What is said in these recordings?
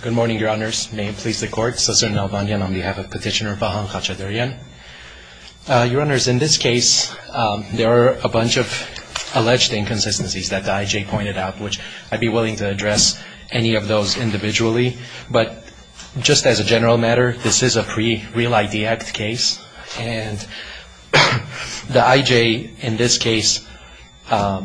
Good morning, Your Honors. May it please the Court, Sussan Alvanyan on behalf of Petitioner Vahan Khachatryan. Your Honors, in this case, there are a bunch of alleged inconsistencies that the I.J. pointed out, which I'd be willing to address any of those individually, but just as a general matter, this is a pre-Real ID Act case, and the I.J. in this case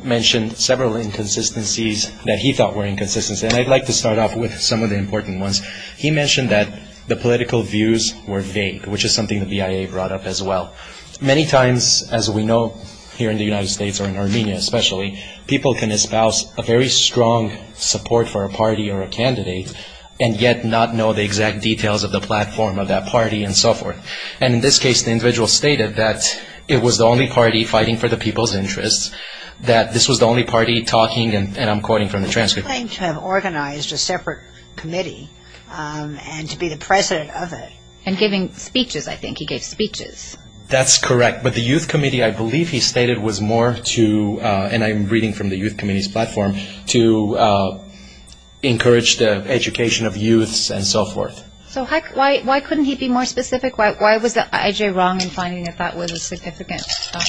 mentioned several inconsistencies that he thought were inconsistencies, and I'd like to start off with some of the important ones. He mentioned that the political views were vague, which is something the BIA brought up as well. Many times, as we know, here in the United States or in Armenia especially, people can espouse a very strong support for a party or a candidate and yet not know the exact details of the platform of that party and so forth. And in this case, the individual stated that it was the only party fighting for the people's interests, that this was the only party talking, and I'm quoting from the transcript. He claimed to have organized a separate committee and to be the president of it. And giving speeches, I think. He gave speeches. That's correct, but the youth committee, I believe he stated, was more to, and I'm reading from the youth committee's platform, to encourage the education of youths and so forth. So why couldn't he be more specific? Why was the I.J. wrong in finding that that was a significant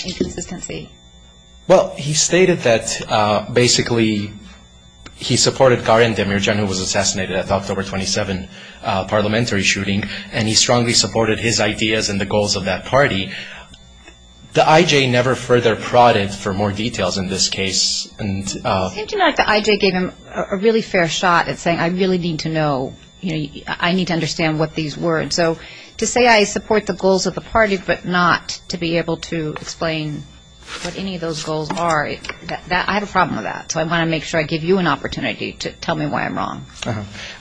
inconsistency? Well, he stated that basically he supported Garyan Demirjian, who was assassinated at the October 27th parliamentary shooting, and he strongly supported his ideas and the goals of that party. The I.J. never further prodded for more details in this case and It seemed to me like the I.J. gave him a really fair shot at saying, I really need to know, I need to understand what these words. So to say I support the goals of the party but not to be able to explain what any of those goals are, I have a problem with that. So I want to make sure I give you an opportunity to tell me why I'm wrong.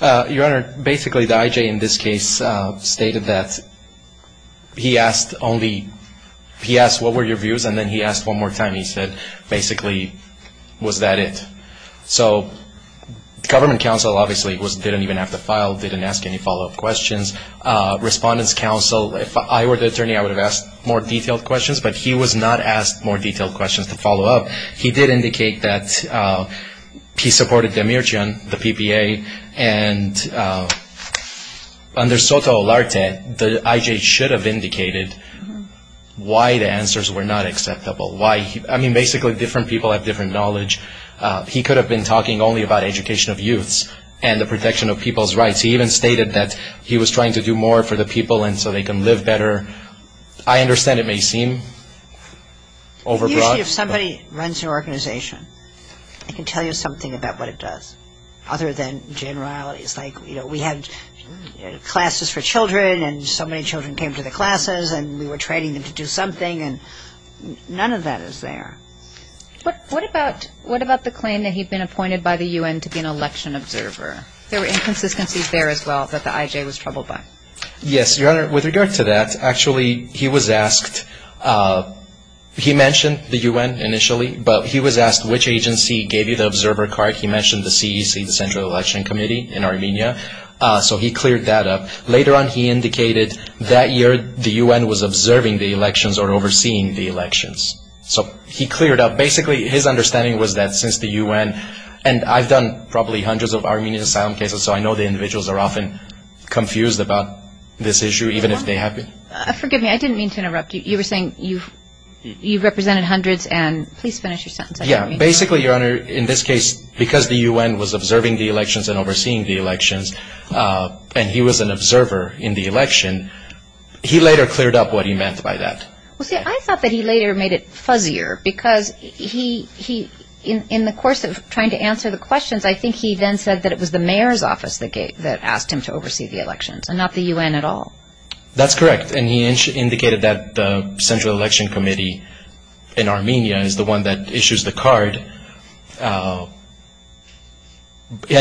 Your Honor, basically the I.J. in this case stated that he asked only, he asked what were your views and then he asked one more time. He said, basically, was that it? So government counsel obviously didn't even have to file, didn't ask any follow-up questions. Respondents' counsel, if I were the attorney I would have asked more detailed questions, but he was not asked more detailed questions to follow up. He did indicate that he supported Demirjian, the PPA, and under Soto Olarte, the I.J. should have indicated why the answers were not acceptable. Why, I mean, basically different people have different knowledge. He could have been talking only about education of youths and the protection of people's rights. He even stated that he was trying to do more for the people and so they can live better. I understand it may seem overbroad. Usually if somebody runs an organization, it can tell you something about what it does other than generalities. Like, you know, we had classes for children and so many children came to the classes and we were training them to do something and none of that is there. What about, what about the claim that he'd been appointed by the U.N. to be an election observer? There were inconsistencies there as well that the I.J. was troubled by. Yes, Your Honor, with regard to that, actually he was asked, he mentioned the U.N. initially, but he was asked which agency gave you the observer card. He mentioned the CEC, the Central Election Committee in Armenia, so he cleared that up. Later on he indicated that year the U.N. was observing the elections or overseeing the elections. So he cleared up. Basically his understanding was that since the U.N. and I've done probably hundreds of Armenian asylum cases, so I know the individuals are often confused about this issue, even if they have been. Forgive me, I didn't mean to interrupt you. You were saying you've represented hundreds and please finish your sentence. Yeah, basically, Your Honor, in this case, because the U.N. was observing the elections and overseeing the elections and he was an observer in the election, he later cleared up what he meant by that. Well, see, I thought that he later made it fuzzier because he, in the course of trying to answer the questions, I think he then said that it was the mayor's office that asked him to oversee the elections and not the U.N. at all. That's correct. And he indicated that the Central Election Committee in Armenia is the one that issues the card. And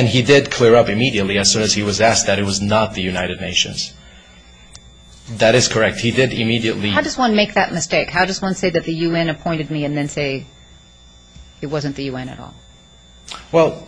he did clear up immediately as soon as he was asked that it was not the United Nations. That is correct. He did immediately... And how does one make that mistake? How does one say that the U.N. appointed me and then say it wasn't the U.N. at all? Well,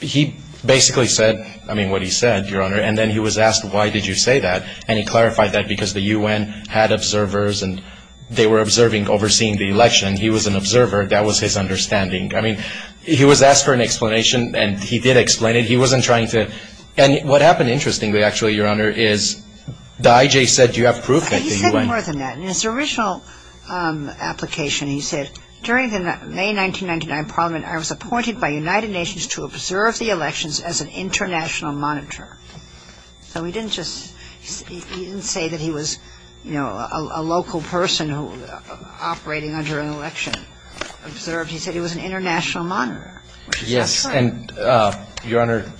he basically said, I mean, what he said, Your Honor, and then he was asked, why did you say that? And he clarified that because the U.N. had observers and they were observing, overseeing the election. He was an observer. That was his understanding. I mean, he was asked for an explanation and he did explain it. He wasn't trying to... And what happened interestingly, actually, Your Honor, is the I.G. said you have proof that the U.N. He said more than that. In his original application, he said, during the May 1999 Parliament, I was appointed by United Nations to observe the elections as an international monitor. So he didn't just, he didn't say that he was, you know, a local person who was operating under an election. He said he was an international monitor, which is what I'm saying. And, Your Honor,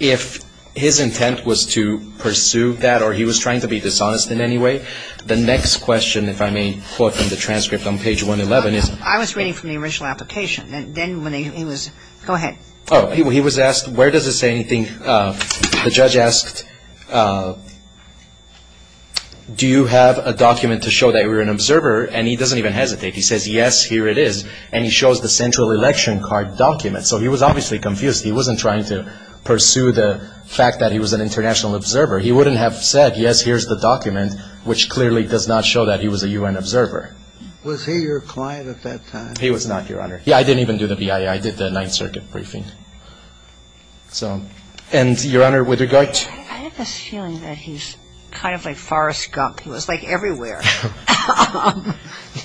if his intent was to pursue that or he was trying to be dishonest in any way, the next question, if I may quote from the transcript on page 111 is... I was reading from the original application. Then when he was... Go ahead. Oh, he was asked, where does it say anything? The judge asked, do you have a document to show that you're an observer? And he doesn't even hesitate. He says, yes, here it is. And he shows the central election card document. So he was obviously confused. He wasn't trying to pursue the fact that he was an international observer. He wouldn't have said, yes, here's the document, which clearly does not show that he was a U.N. observer. Was he your client at that time? He was not, Your Honor. Yeah, I didn't even do the BIA. I did the Ninth Circuit briefing. So, and, Your Honor, with regard to... I have a feeling that he's kind of like Forrest Gump. He was like everywhere.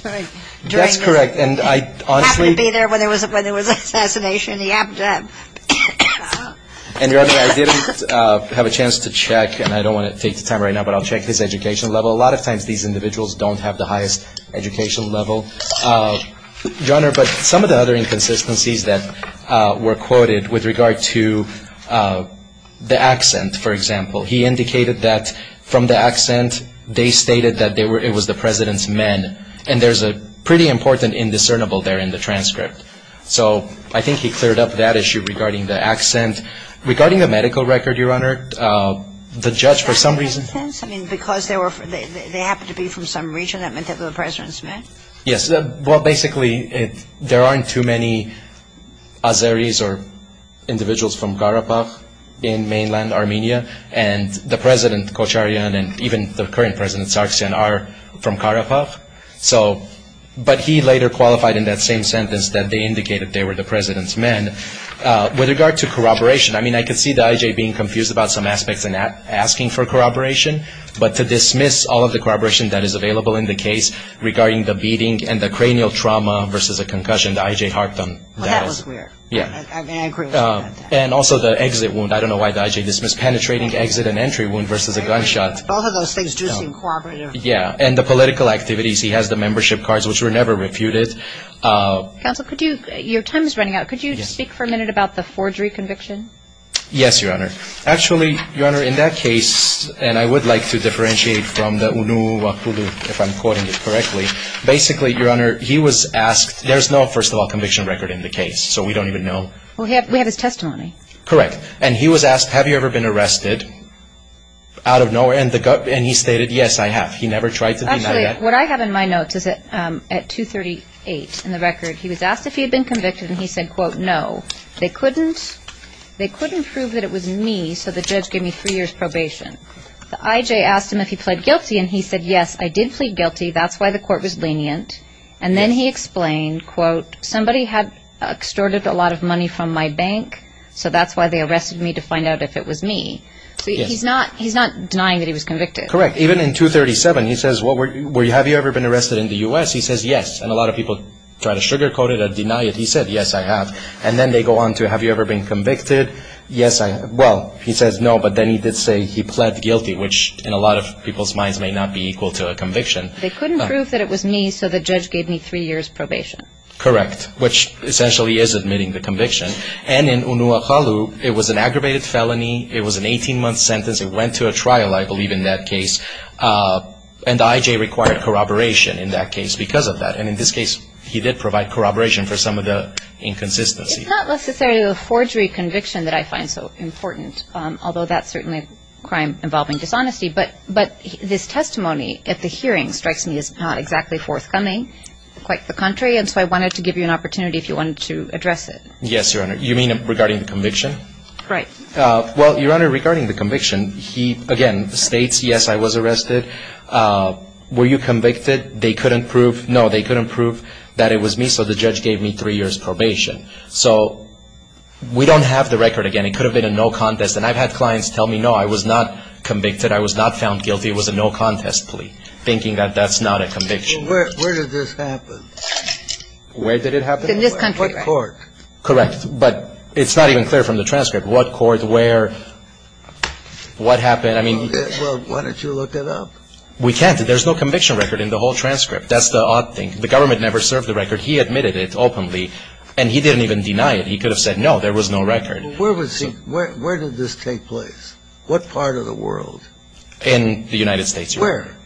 That's correct. And I honestly... He happened to be there when there was an assassination. He happened to have... And, Your Honor, I didn't have a chance to check, and I don't want to take the time right now, but I'll check his education level. A lot of times these individuals don't have the highest education level. Your Honor, but some of the other inconsistencies that were quoted with regard to the accent, for example, he indicated that from the accent they stated that it was the President's men, and there's a pretty important indiscernible there in the transcript. So I think he cleared up that issue regarding the accent. Regarding the medical record, Your Honor, the judge, for some reason... Does that make sense? I mean, because they happened to be from some region, that meant that they were the President's men? Yes. Well, basically, there aren't too many Azeris or individuals from Karabakh in mainland Armenia, and the President, Kocharyan, and even the current President, Sargsyan, are from Karabakh. So, but he later qualified in that same sentence that they indicated they were the President's men. With regard to corroboration, I mean, I could see the IJ being confused about some aspects in asking for corroboration, but to dismiss all of the corroboration that is available in the case regarding the beating and the cranial trauma versus a concussion, the IJ harped on that. Well, that was weird. Yeah. And I agree with you on that. And also the exit wound. I don't know why the IJ dismissed penetrating exit and entry wound versus a gunshot. Both of those things do seem corroborative. Yeah. And the political activities. He has the membership cards, which were never refuted. Counsel, your time is running out. Could you speak for a minute about the forgery conviction? Yes, Your Honor. Actually, Your Honor, in that case, and I would like to differentiate from the UNUWAKULU, if I'm quoting it correctly, basically, Your Honor, he was asked... There's no, first of all, conviction record in the case, so we don't even know. We have his testimony. Correct. And he was asked, have you ever been arrested out of nowhere? And he stated, yes, I have. He never tried to deny that. Actually, what I have in my notes is that at 238 in the record, he was asked if he had been convicted, and he said, quote, no. They couldn't prove that it was me, so the judge gave me three years probation. The IJ asked him if he pled guilty, and he said, yes, I did plead guilty. That's why the court was lenient. And then he explained, quote, somebody had extorted a lot of money from my bank, so that's why they arrested me to find out if it was me. So he's not denying that he was convicted. Correct. Even in 237, he says, have you ever been arrested in the U.S.? He says, yes. And a lot of people try to sugarcoat it or deny it. He said, yes, I have. And then they go on to, have you ever been convicted? Yes, I have. Well, he says, no. But then he did say he pled guilty, which in a lot of people's minds may not be equal to a conviction. They couldn't prove that it was me, so the judge gave me three years probation. Correct, which essentially is admitting the conviction. And in Unua Halu, it was an aggravated felony. It was an 18-month sentence. It went to a trial, I believe, in that case. And the IJ required corroboration in that case because of that. And in this case, he did provide corroboration for some of the inconsistencies. It's not necessarily the forgery conviction that I find so important, although that's certainly a crime involving dishonesty. But this testimony at the hearing strikes me as not exactly forthcoming. Quite the contrary. And so I wanted to give you an opportunity if you wanted to address it. Yes, Your Honor. You mean regarding the conviction? Right. Well, Your Honor, regarding the conviction, he again states, yes, I was arrested. Were you convicted? They couldn't prove, no, they couldn't prove that it was me, so the judge gave me three years probation. So we don't have the record again. It could have been a no contest. And I've had clients tell me, no, I was not convicted. I was not found guilty. It was a no contest plea, thinking that that's not a conviction. Where did this happen? Where did it happen? In this country, right? What court? Correct. But it's not even clear from the transcript. What court, where, what happened? I mean... Well, why don't you look it up? We can't. There's no conviction record in the whole transcript. That's the odd thing. The government never served the record. He admitted it openly, and he didn't even deny it. He could have said, no, there was no record. Where was he? Where did this take place? What part of the world? In the United States, Your Honor. Where?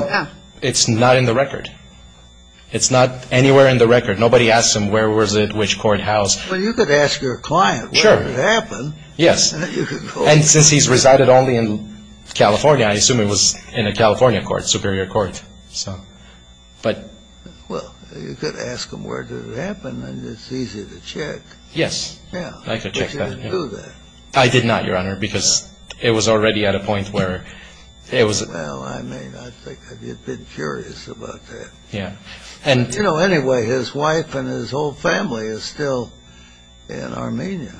Well, it's not in the record. It's not anywhere in the record. Nobody asks him where was it, which court house. Well, you could ask your client. Sure. Where did it happen? Yes. And since he's resided only in California, I assume it was in a California court, superior court. So, but... Well, you could ask him where did it happen, and it's easy to check. Yes. Yeah. I could check that. But you didn't do that. I did not, Your Honor, because it was already at a point where it was... Well, I mean, I think you'd be curious about that. Yeah. You know, anyway, his wife and his whole family is still in Armenia.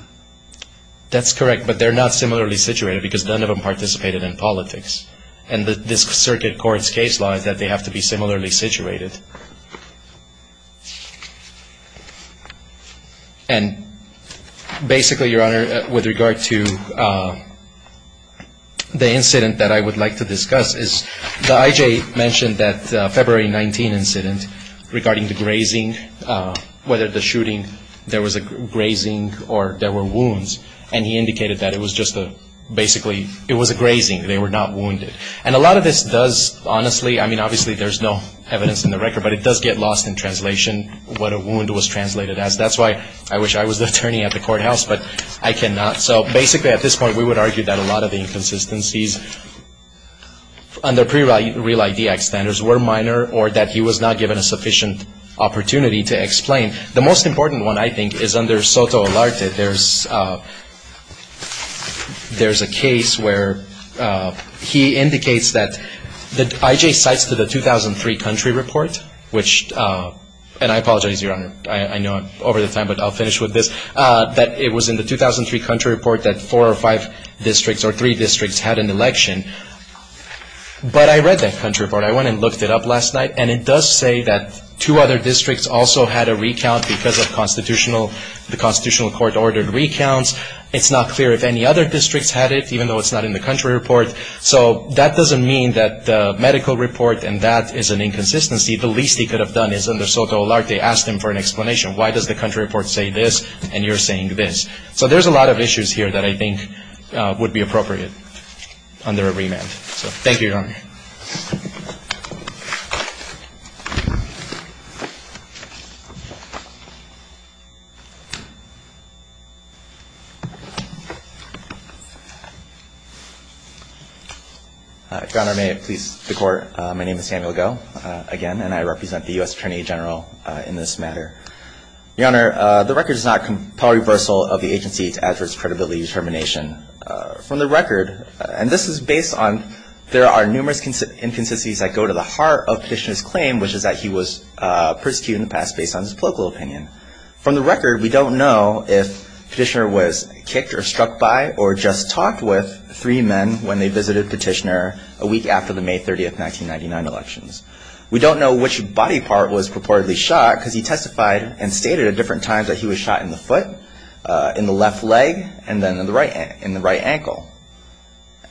That's correct, but they're not similarly situated because none of them participated in politics. And this circuit court's case law is that they have to be similarly situated. And basically, Your Honor, with regard to the incident that I would like to discuss is the I.J. mentioned that February 19 incident regarding the grazing, whether the shooting, there was a grazing or there were wounds, and he indicated that it was just a, basically, it was a grazing. They were not wounded. And a lot of this does, honestly, I mean, obviously there's no evidence in the record, but it does get lost in translation what a wound was translated as. That's why I wish I was the attorney at the courthouse, but I cannot. So basically, at this point, we would argue that a lot of the inconsistencies under pre-Real ID Act standards were minor or that he was not given a sufficient opportunity to explain. The most important one, I think, is under SOTO-Alarte. There's a case where he indicates that the I.J. cites to the 2003 country report, which, and I apologize, Your Honor, I know over the time, but I'll finish with this, that it was in the 2003 country report that four or five districts or three districts had an election. But I read that country report. I went and looked it up last night, and it does say that two other districts also had a recount because of constitutional, the constitutional court ordered recounts. It's not clear if any other districts had it, even though it's not in the country report. So that doesn't mean that the medical report and that is an inconsistency. The least he could have done is under SOTO-Alarte, ask them for an explanation. Why does the country report say this, and you're saying this? So there's a lot of issues here that I think would be appropriate under a remand. So thank you, Your Honor. Your Honor, may it please the Court, my name is Samuel Goh, again, and I represent the U.S. Attorney General in this matter. Your Honor, the record is not a compel reversal of the agency to address credibility determination. From the record, and this is based on there are numerous cases in which the agency's credibility determination and there are numerous inconsistencies that go to the heart of Petitioner's claim, which is that he was persecuted in the past based on his political opinion. From the record, we don't know if Petitioner was kicked or struck by or just talked with three men when they visited Petitioner a week after the May 30th, 1999 elections. We don't know which body part was purportedly shot because he testified and stated at different times that he was shot in the foot, in the left leg, and then in the right ankle.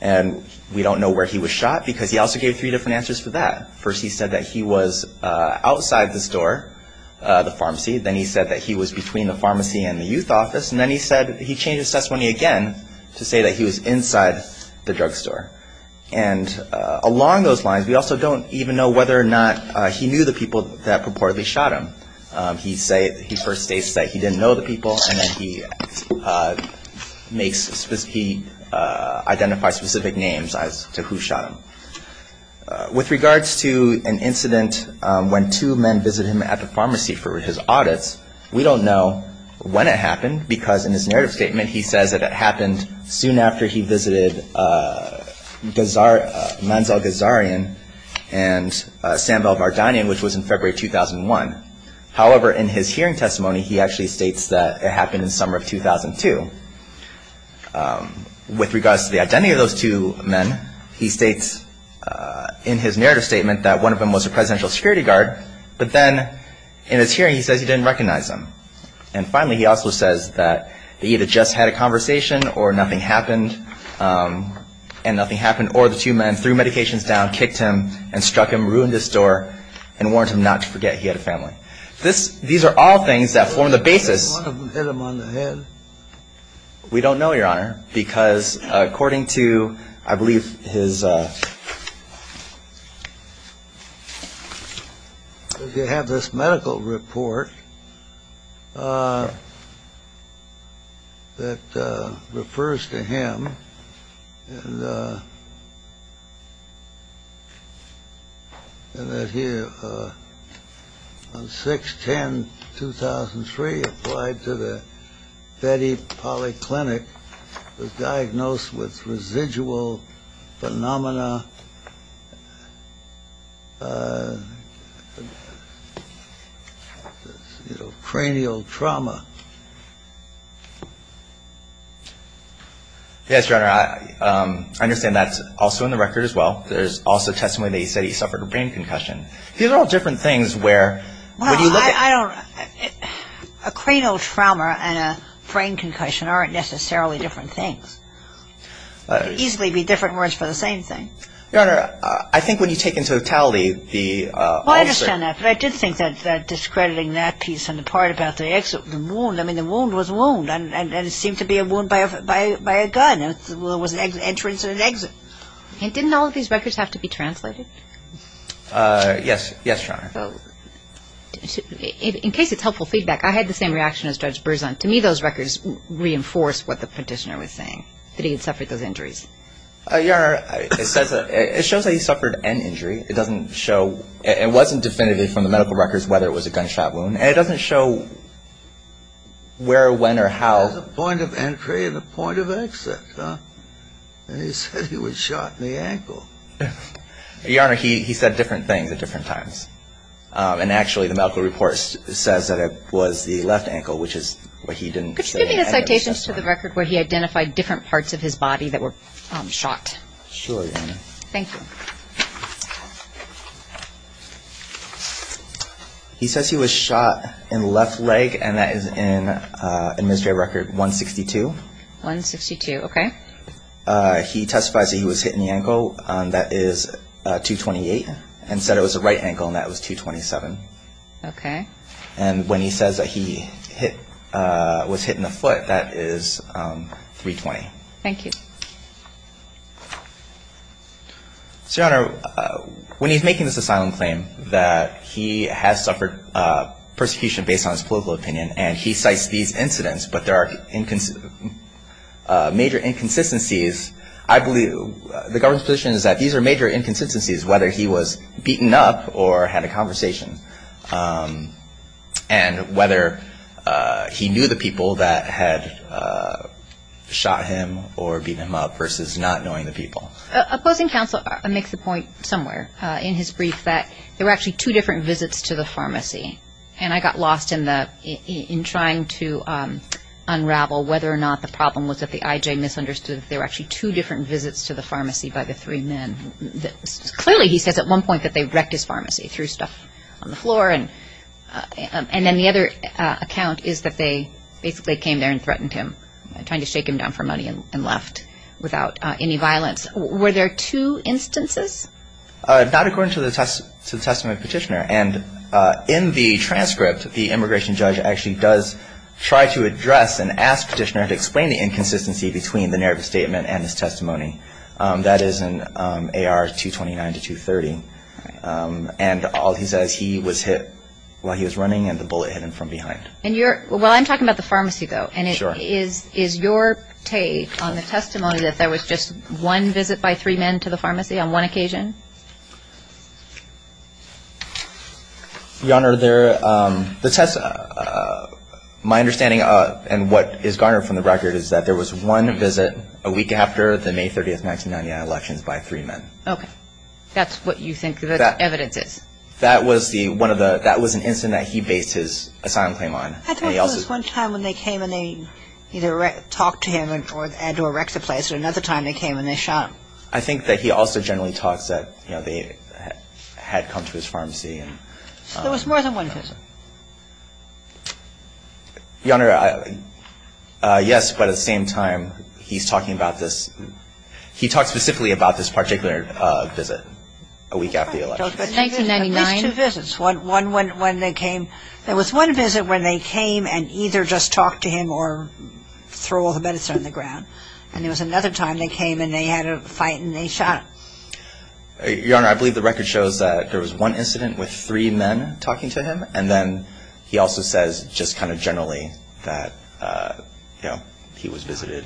And we don't know where he was shot because he also gave three different answers for that. First, he said that he was outside the store, the pharmacy. Then he said that he was between the pharmacy and the youth office. And then he said he changed his testimony again to say that he was inside the drugstore. And along those lines, we also don't even know whether or not he knew the people that purportedly shot him. He first states that he didn't know the people, and then he identifies specific names as to who shot him. With regards to an incident when two men visited him at the pharmacy for his audits, we don't know when it happened because in his narrative statement, he says that it happened soon after he visited Manzal Ghazarian and Sam Valvardanyan, which was in February 2001. However, in his hearing testimony, he actually states that it happened in summer of 2002. With regards to the identity of those two men, he states in his narrative statement that one of them was a presidential security guard, but then in his hearing, he says he didn't recognize him. And finally, he also says that he either just had a conversation or nothing happened, and nothing happened, or the two men threw medications down, kicked him, and struck him, ruined his door, and warned him not to forget he had a family. These are all things that form the basis. Did one of them hit him on the head? We don't know, Your Honor, because according to, I believe, his... You have this medical report that refers to him and that he, on 6-10-2003, was diagnosed with residual phenomena, cranial trauma. Yes, Your Honor. I understand that's also in the record as well. There's also testimony that he said he suffered a brain concussion. These are all different things where when you look at... I don't know. A cranial trauma and a brain concussion aren't necessarily different things. They could easily be different words for the same thing. Your Honor, I think when you take into totality the... Well, I understand that, but I did think that discrediting that piece and the part about the wound, I mean, the wound was a wound, and it seemed to be a wound by a gun. It was an entrance and an exit. Yes, Your Honor. In case it's helpful feedback, I had the same reaction as Judge Berzon. To me, those records reinforce what the petitioner was saying, that he had suffered those injuries. Your Honor, it shows that he suffered an injury. It doesn't show... It wasn't definitively from the medical records whether it was a gunshot wound, and it doesn't show where, when, or how. It was a point of entry and a point of exit, and he said he was shot in the ankle. Your Honor, he said different things at different times. And actually, the medical report says that it was the left ankle, which is what he didn't say. Could you give me the citations to the record where he identified different parts of his body that were shot? Sure, Your Honor. Thank you. He says he was shot in the left leg, and that is in Administrative Record 162. 162, okay. He testifies that he was hit in the ankle. That is 228, and said it was the right ankle, and that was 227. Okay. And when he says that he was hit in the foot, that is 320. Thank you. So, Your Honor, when he's making this asylum claim, that he has suffered persecution based on his political opinion, and he cites these incidents, but there are major inconsistencies. I believe the government's position is that these are major inconsistencies, whether he was beaten up or had a conversation, and whether he knew the people that had shot him or beaten him up versus not knowing the people. Opposing counsel makes the point somewhere in his brief that there were actually two different visits to the pharmacy, and I got lost in trying to unravel whether or not the problem was that the IJ misunderstood that there were actually two different visits to the pharmacy by the three men. Clearly, he says at one point that they wrecked his pharmacy, threw stuff on the floor, and then the other account is that they basically came there and threatened him, trying to shake him down for money and left without any violence. Were there two instances? Not according to the testament petitioner. And in the transcript, the immigration judge actually does try to address and ask the petitioner to explain the inconsistency between the narrative statement and his testimony. That is in AR 229 to 230. And all he says, he was hit while he was running, and the bullet hit him from behind. And is your take on the testimony that there was just one visit by three men to the pharmacy on one occasion? Your Honor, my understanding, and what is garnered from the record, is that there was one visit a week after the May 30th, 1999 elections by three men. Okay. That's what you think the evidence is. That was an incident that he based his asylum claim on. I think there was one time when they came and they either talked to him or had to erect a place, and another time they came and they shot him. I think that he also generally talks that, you know, they had come to his pharmacy. So there was more than one visit? Your Honor, yes, but at the same time, he's talking about this – he talks specifically about this particular visit a week after the elections. These two visits, one when they came – there was one visit when they came and either just talked to him or threw all the bullets on the ground, and there was another time they came and they had a fight and they shot him. Your Honor, I believe the record shows that there was one incident with three men talking to him, and then he also says just kind of generally that, you know, he was visited.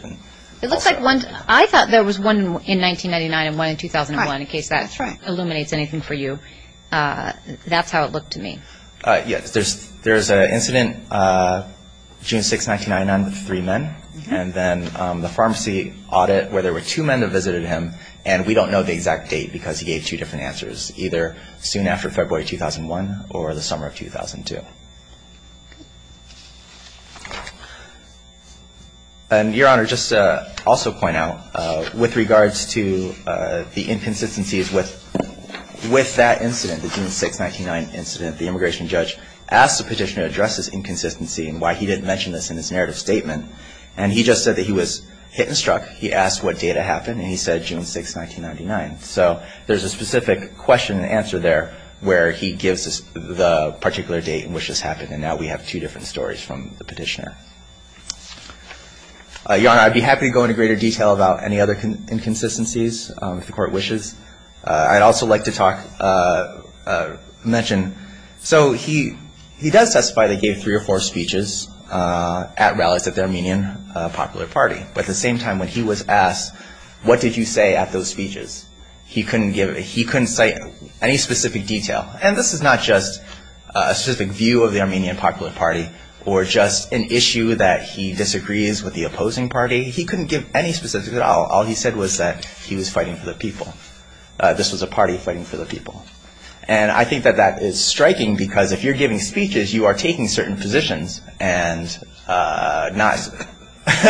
It looks like one – I thought there was one in 1999 and one in 2001, in case that illuminates anything for you. That's how it looked to me. Yes, there's an incident June 6, 1999 with three men, and then the pharmacy audit where there were two men that visited him, and we don't know the exact date because he gave two different answers, either soon after February 2001 or the summer of 2002. And, Your Honor, just to also point out, with regards to the inconsistencies with that incident, the June 6, 1999 incident, the immigration judge asked the petitioner to address his inconsistency and why he didn't mention this in his narrative statement, and he just said that he was hit and struck. He asked what date it happened, and he said June 6, 1999. So there's a specific question and answer there where he gives the particular date in which this happened, and now we have two different stories from the petitioner. Your Honor, I'd be happy to go into greater detail about any other inconsistencies if the Court wishes. I'd also like to talk – mention – so he does testify that he gave three or four speeches at rallies at the Armenian Popular Party, but at the same time when he was asked, what did you say at those speeches, he couldn't give – he couldn't cite any specific detail. And this is not just a specific view of the Armenian Popular Party or just an issue that he disagrees with the opposing party. He couldn't give any specifics at all. All he said was that he was fighting for the people, this was a party fighting for the people. And I think that that is striking because if you're giving speeches, you are taking certain positions and not –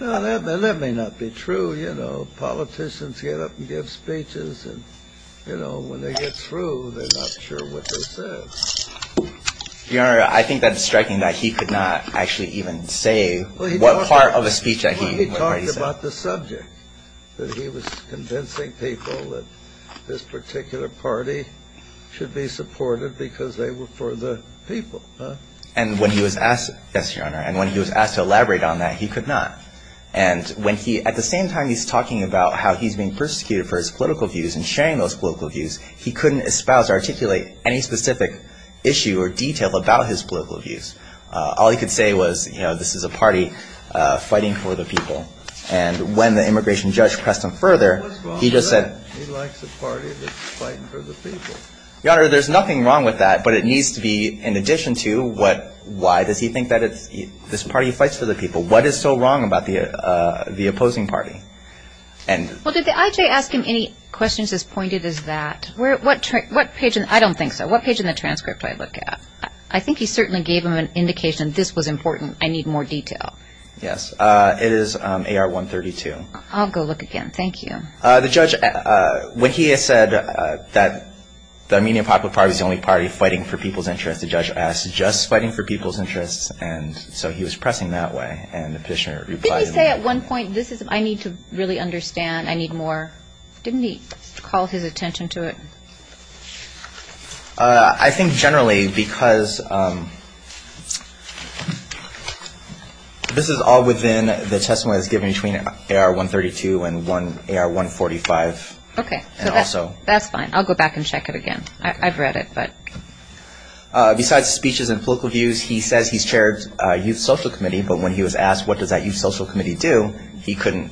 Well, that may not be true. Well, you know, politicians get up and give speeches and, you know, when they get through, they're not sure what they said. Your Honor, I think that it's striking that he could not actually even say what part of a speech that he said. Well, he talked about the subject, that he was convincing people that this particular party should be supported because they were for the people. And when he was asked – yes, Your Honor – and when he was asked to elaborate on that, he could not. And when he – at the same time he's talking about how he's being persecuted for his political views and sharing those political views, he couldn't espouse or articulate any specific issue or detail about his political views. All he could say was, you know, this is a party fighting for the people. And when the immigration judge pressed him further, he just said – What's wrong with that? He likes a party that's fighting for the people. Your Honor, there's nothing wrong with that, but it needs to be in addition to what – why does he think that it's – this party fights for the people. What is so wrong about the opposing party? Well, did the IJ ask him any questions as pointed as that? What page – I don't think so. What page in the transcript do I look at? I think he certainly gave him an indication this was important. I need more detail. Yes. It is AR-132. I'll go look again. Thank you. The judge – when he said that the Armenian Popular Party is the only party fighting for people's interests, the judge asked, just fighting for people's interests? And so he was pressing that way. And the petitioner replied – Didn't he say at one point, this is – I need to really understand, I need more? Didn't he call his attention to it? I think generally because this is all within the testimony that's given between AR-132 and AR-145. Okay. And also – That's fine. I'll go back and check it again. I've read it, but – Besides speeches and political views, he says he's chaired a youth social committee, but when he was asked what does that youth social committee do, he couldn't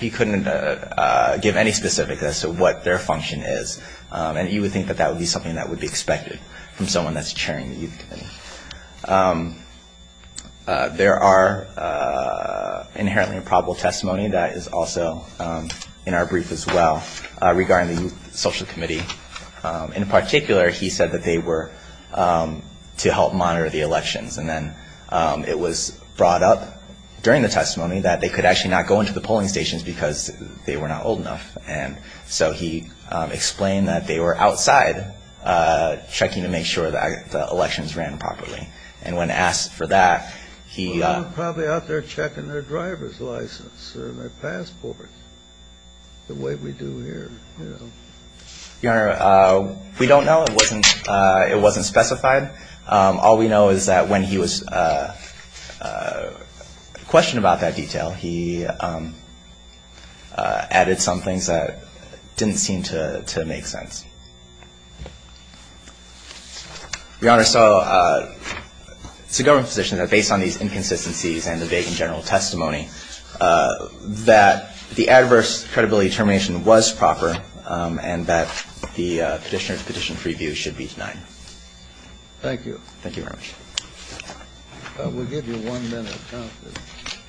give any specifics as to what their function is. And you would think that that would be something that would be expected from someone that's chairing the youth committee. There are inherently improbable testimony that is also in our brief as well regarding the youth social committee. In particular, he said that they were to help monitor the elections. And then it was brought up during the testimony that they could actually not go into the polling stations because they were not old enough. And so he explained that they were outside checking to make sure that the elections ran properly. And when asked for that, he – They were probably out there checking their driver's license or their passport, the way we do here. Your Honor, we don't know. It wasn't specified. All we know is that when he was questioned about that detail, he added some things that didn't seem to make sense. Your Honor, so it's the government's position that based on these inconsistencies and the vague and general testimony, that the adverse credibility determination was proper and that the petitioner's petition preview should be denied. Thank you. Thank you very much. We'll give you one minute.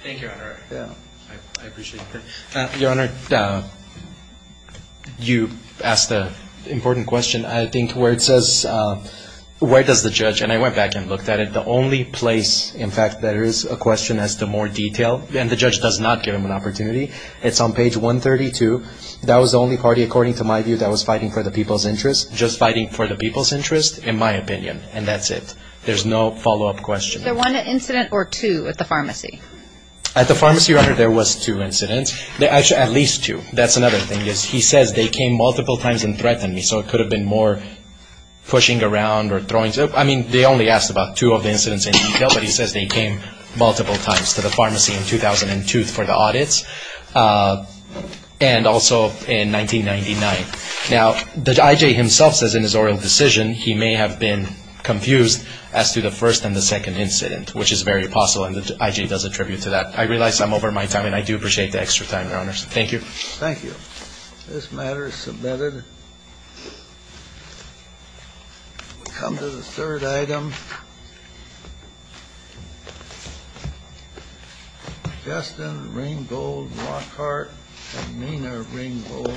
Thank you, Your Honor. Yeah. I appreciate it. Your Honor, you asked an important question. I think where it says – where does the judge – and I went back and looked at it. In fact, there is a question as to more detail. And the judge does not give him an opportunity. It's on page 132. That was the only party, according to my view, that was fighting for the people's interest. Just fighting for the people's interest, in my opinion. And that's it. There's no follow-up question. Was there one incident or two at the pharmacy? At the pharmacy, Your Honor, there was two incidents. Actually, at least two. That's another thing. He says they came multiple times and threatened me. So it could have been more pushing around or throwing – I mean, they only asked about two of the incidents in detail, but he says they came multiple times to the pharmacy in 2002 for the audits and also in 1999. Now, the I.J. himself says in his oral decision he may have been confused as to the first and the second incident, which is very possible, and the I.J. does attribute to that. I realize I'm over my time, and I do appreciate the extra time, Your Honor. Thank you. Thank you. This matter is submitted. We'll come to the third item. Justin Ringgold Lockhart and Nina Ringgold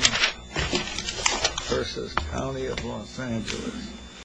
v. County of Los Angeles.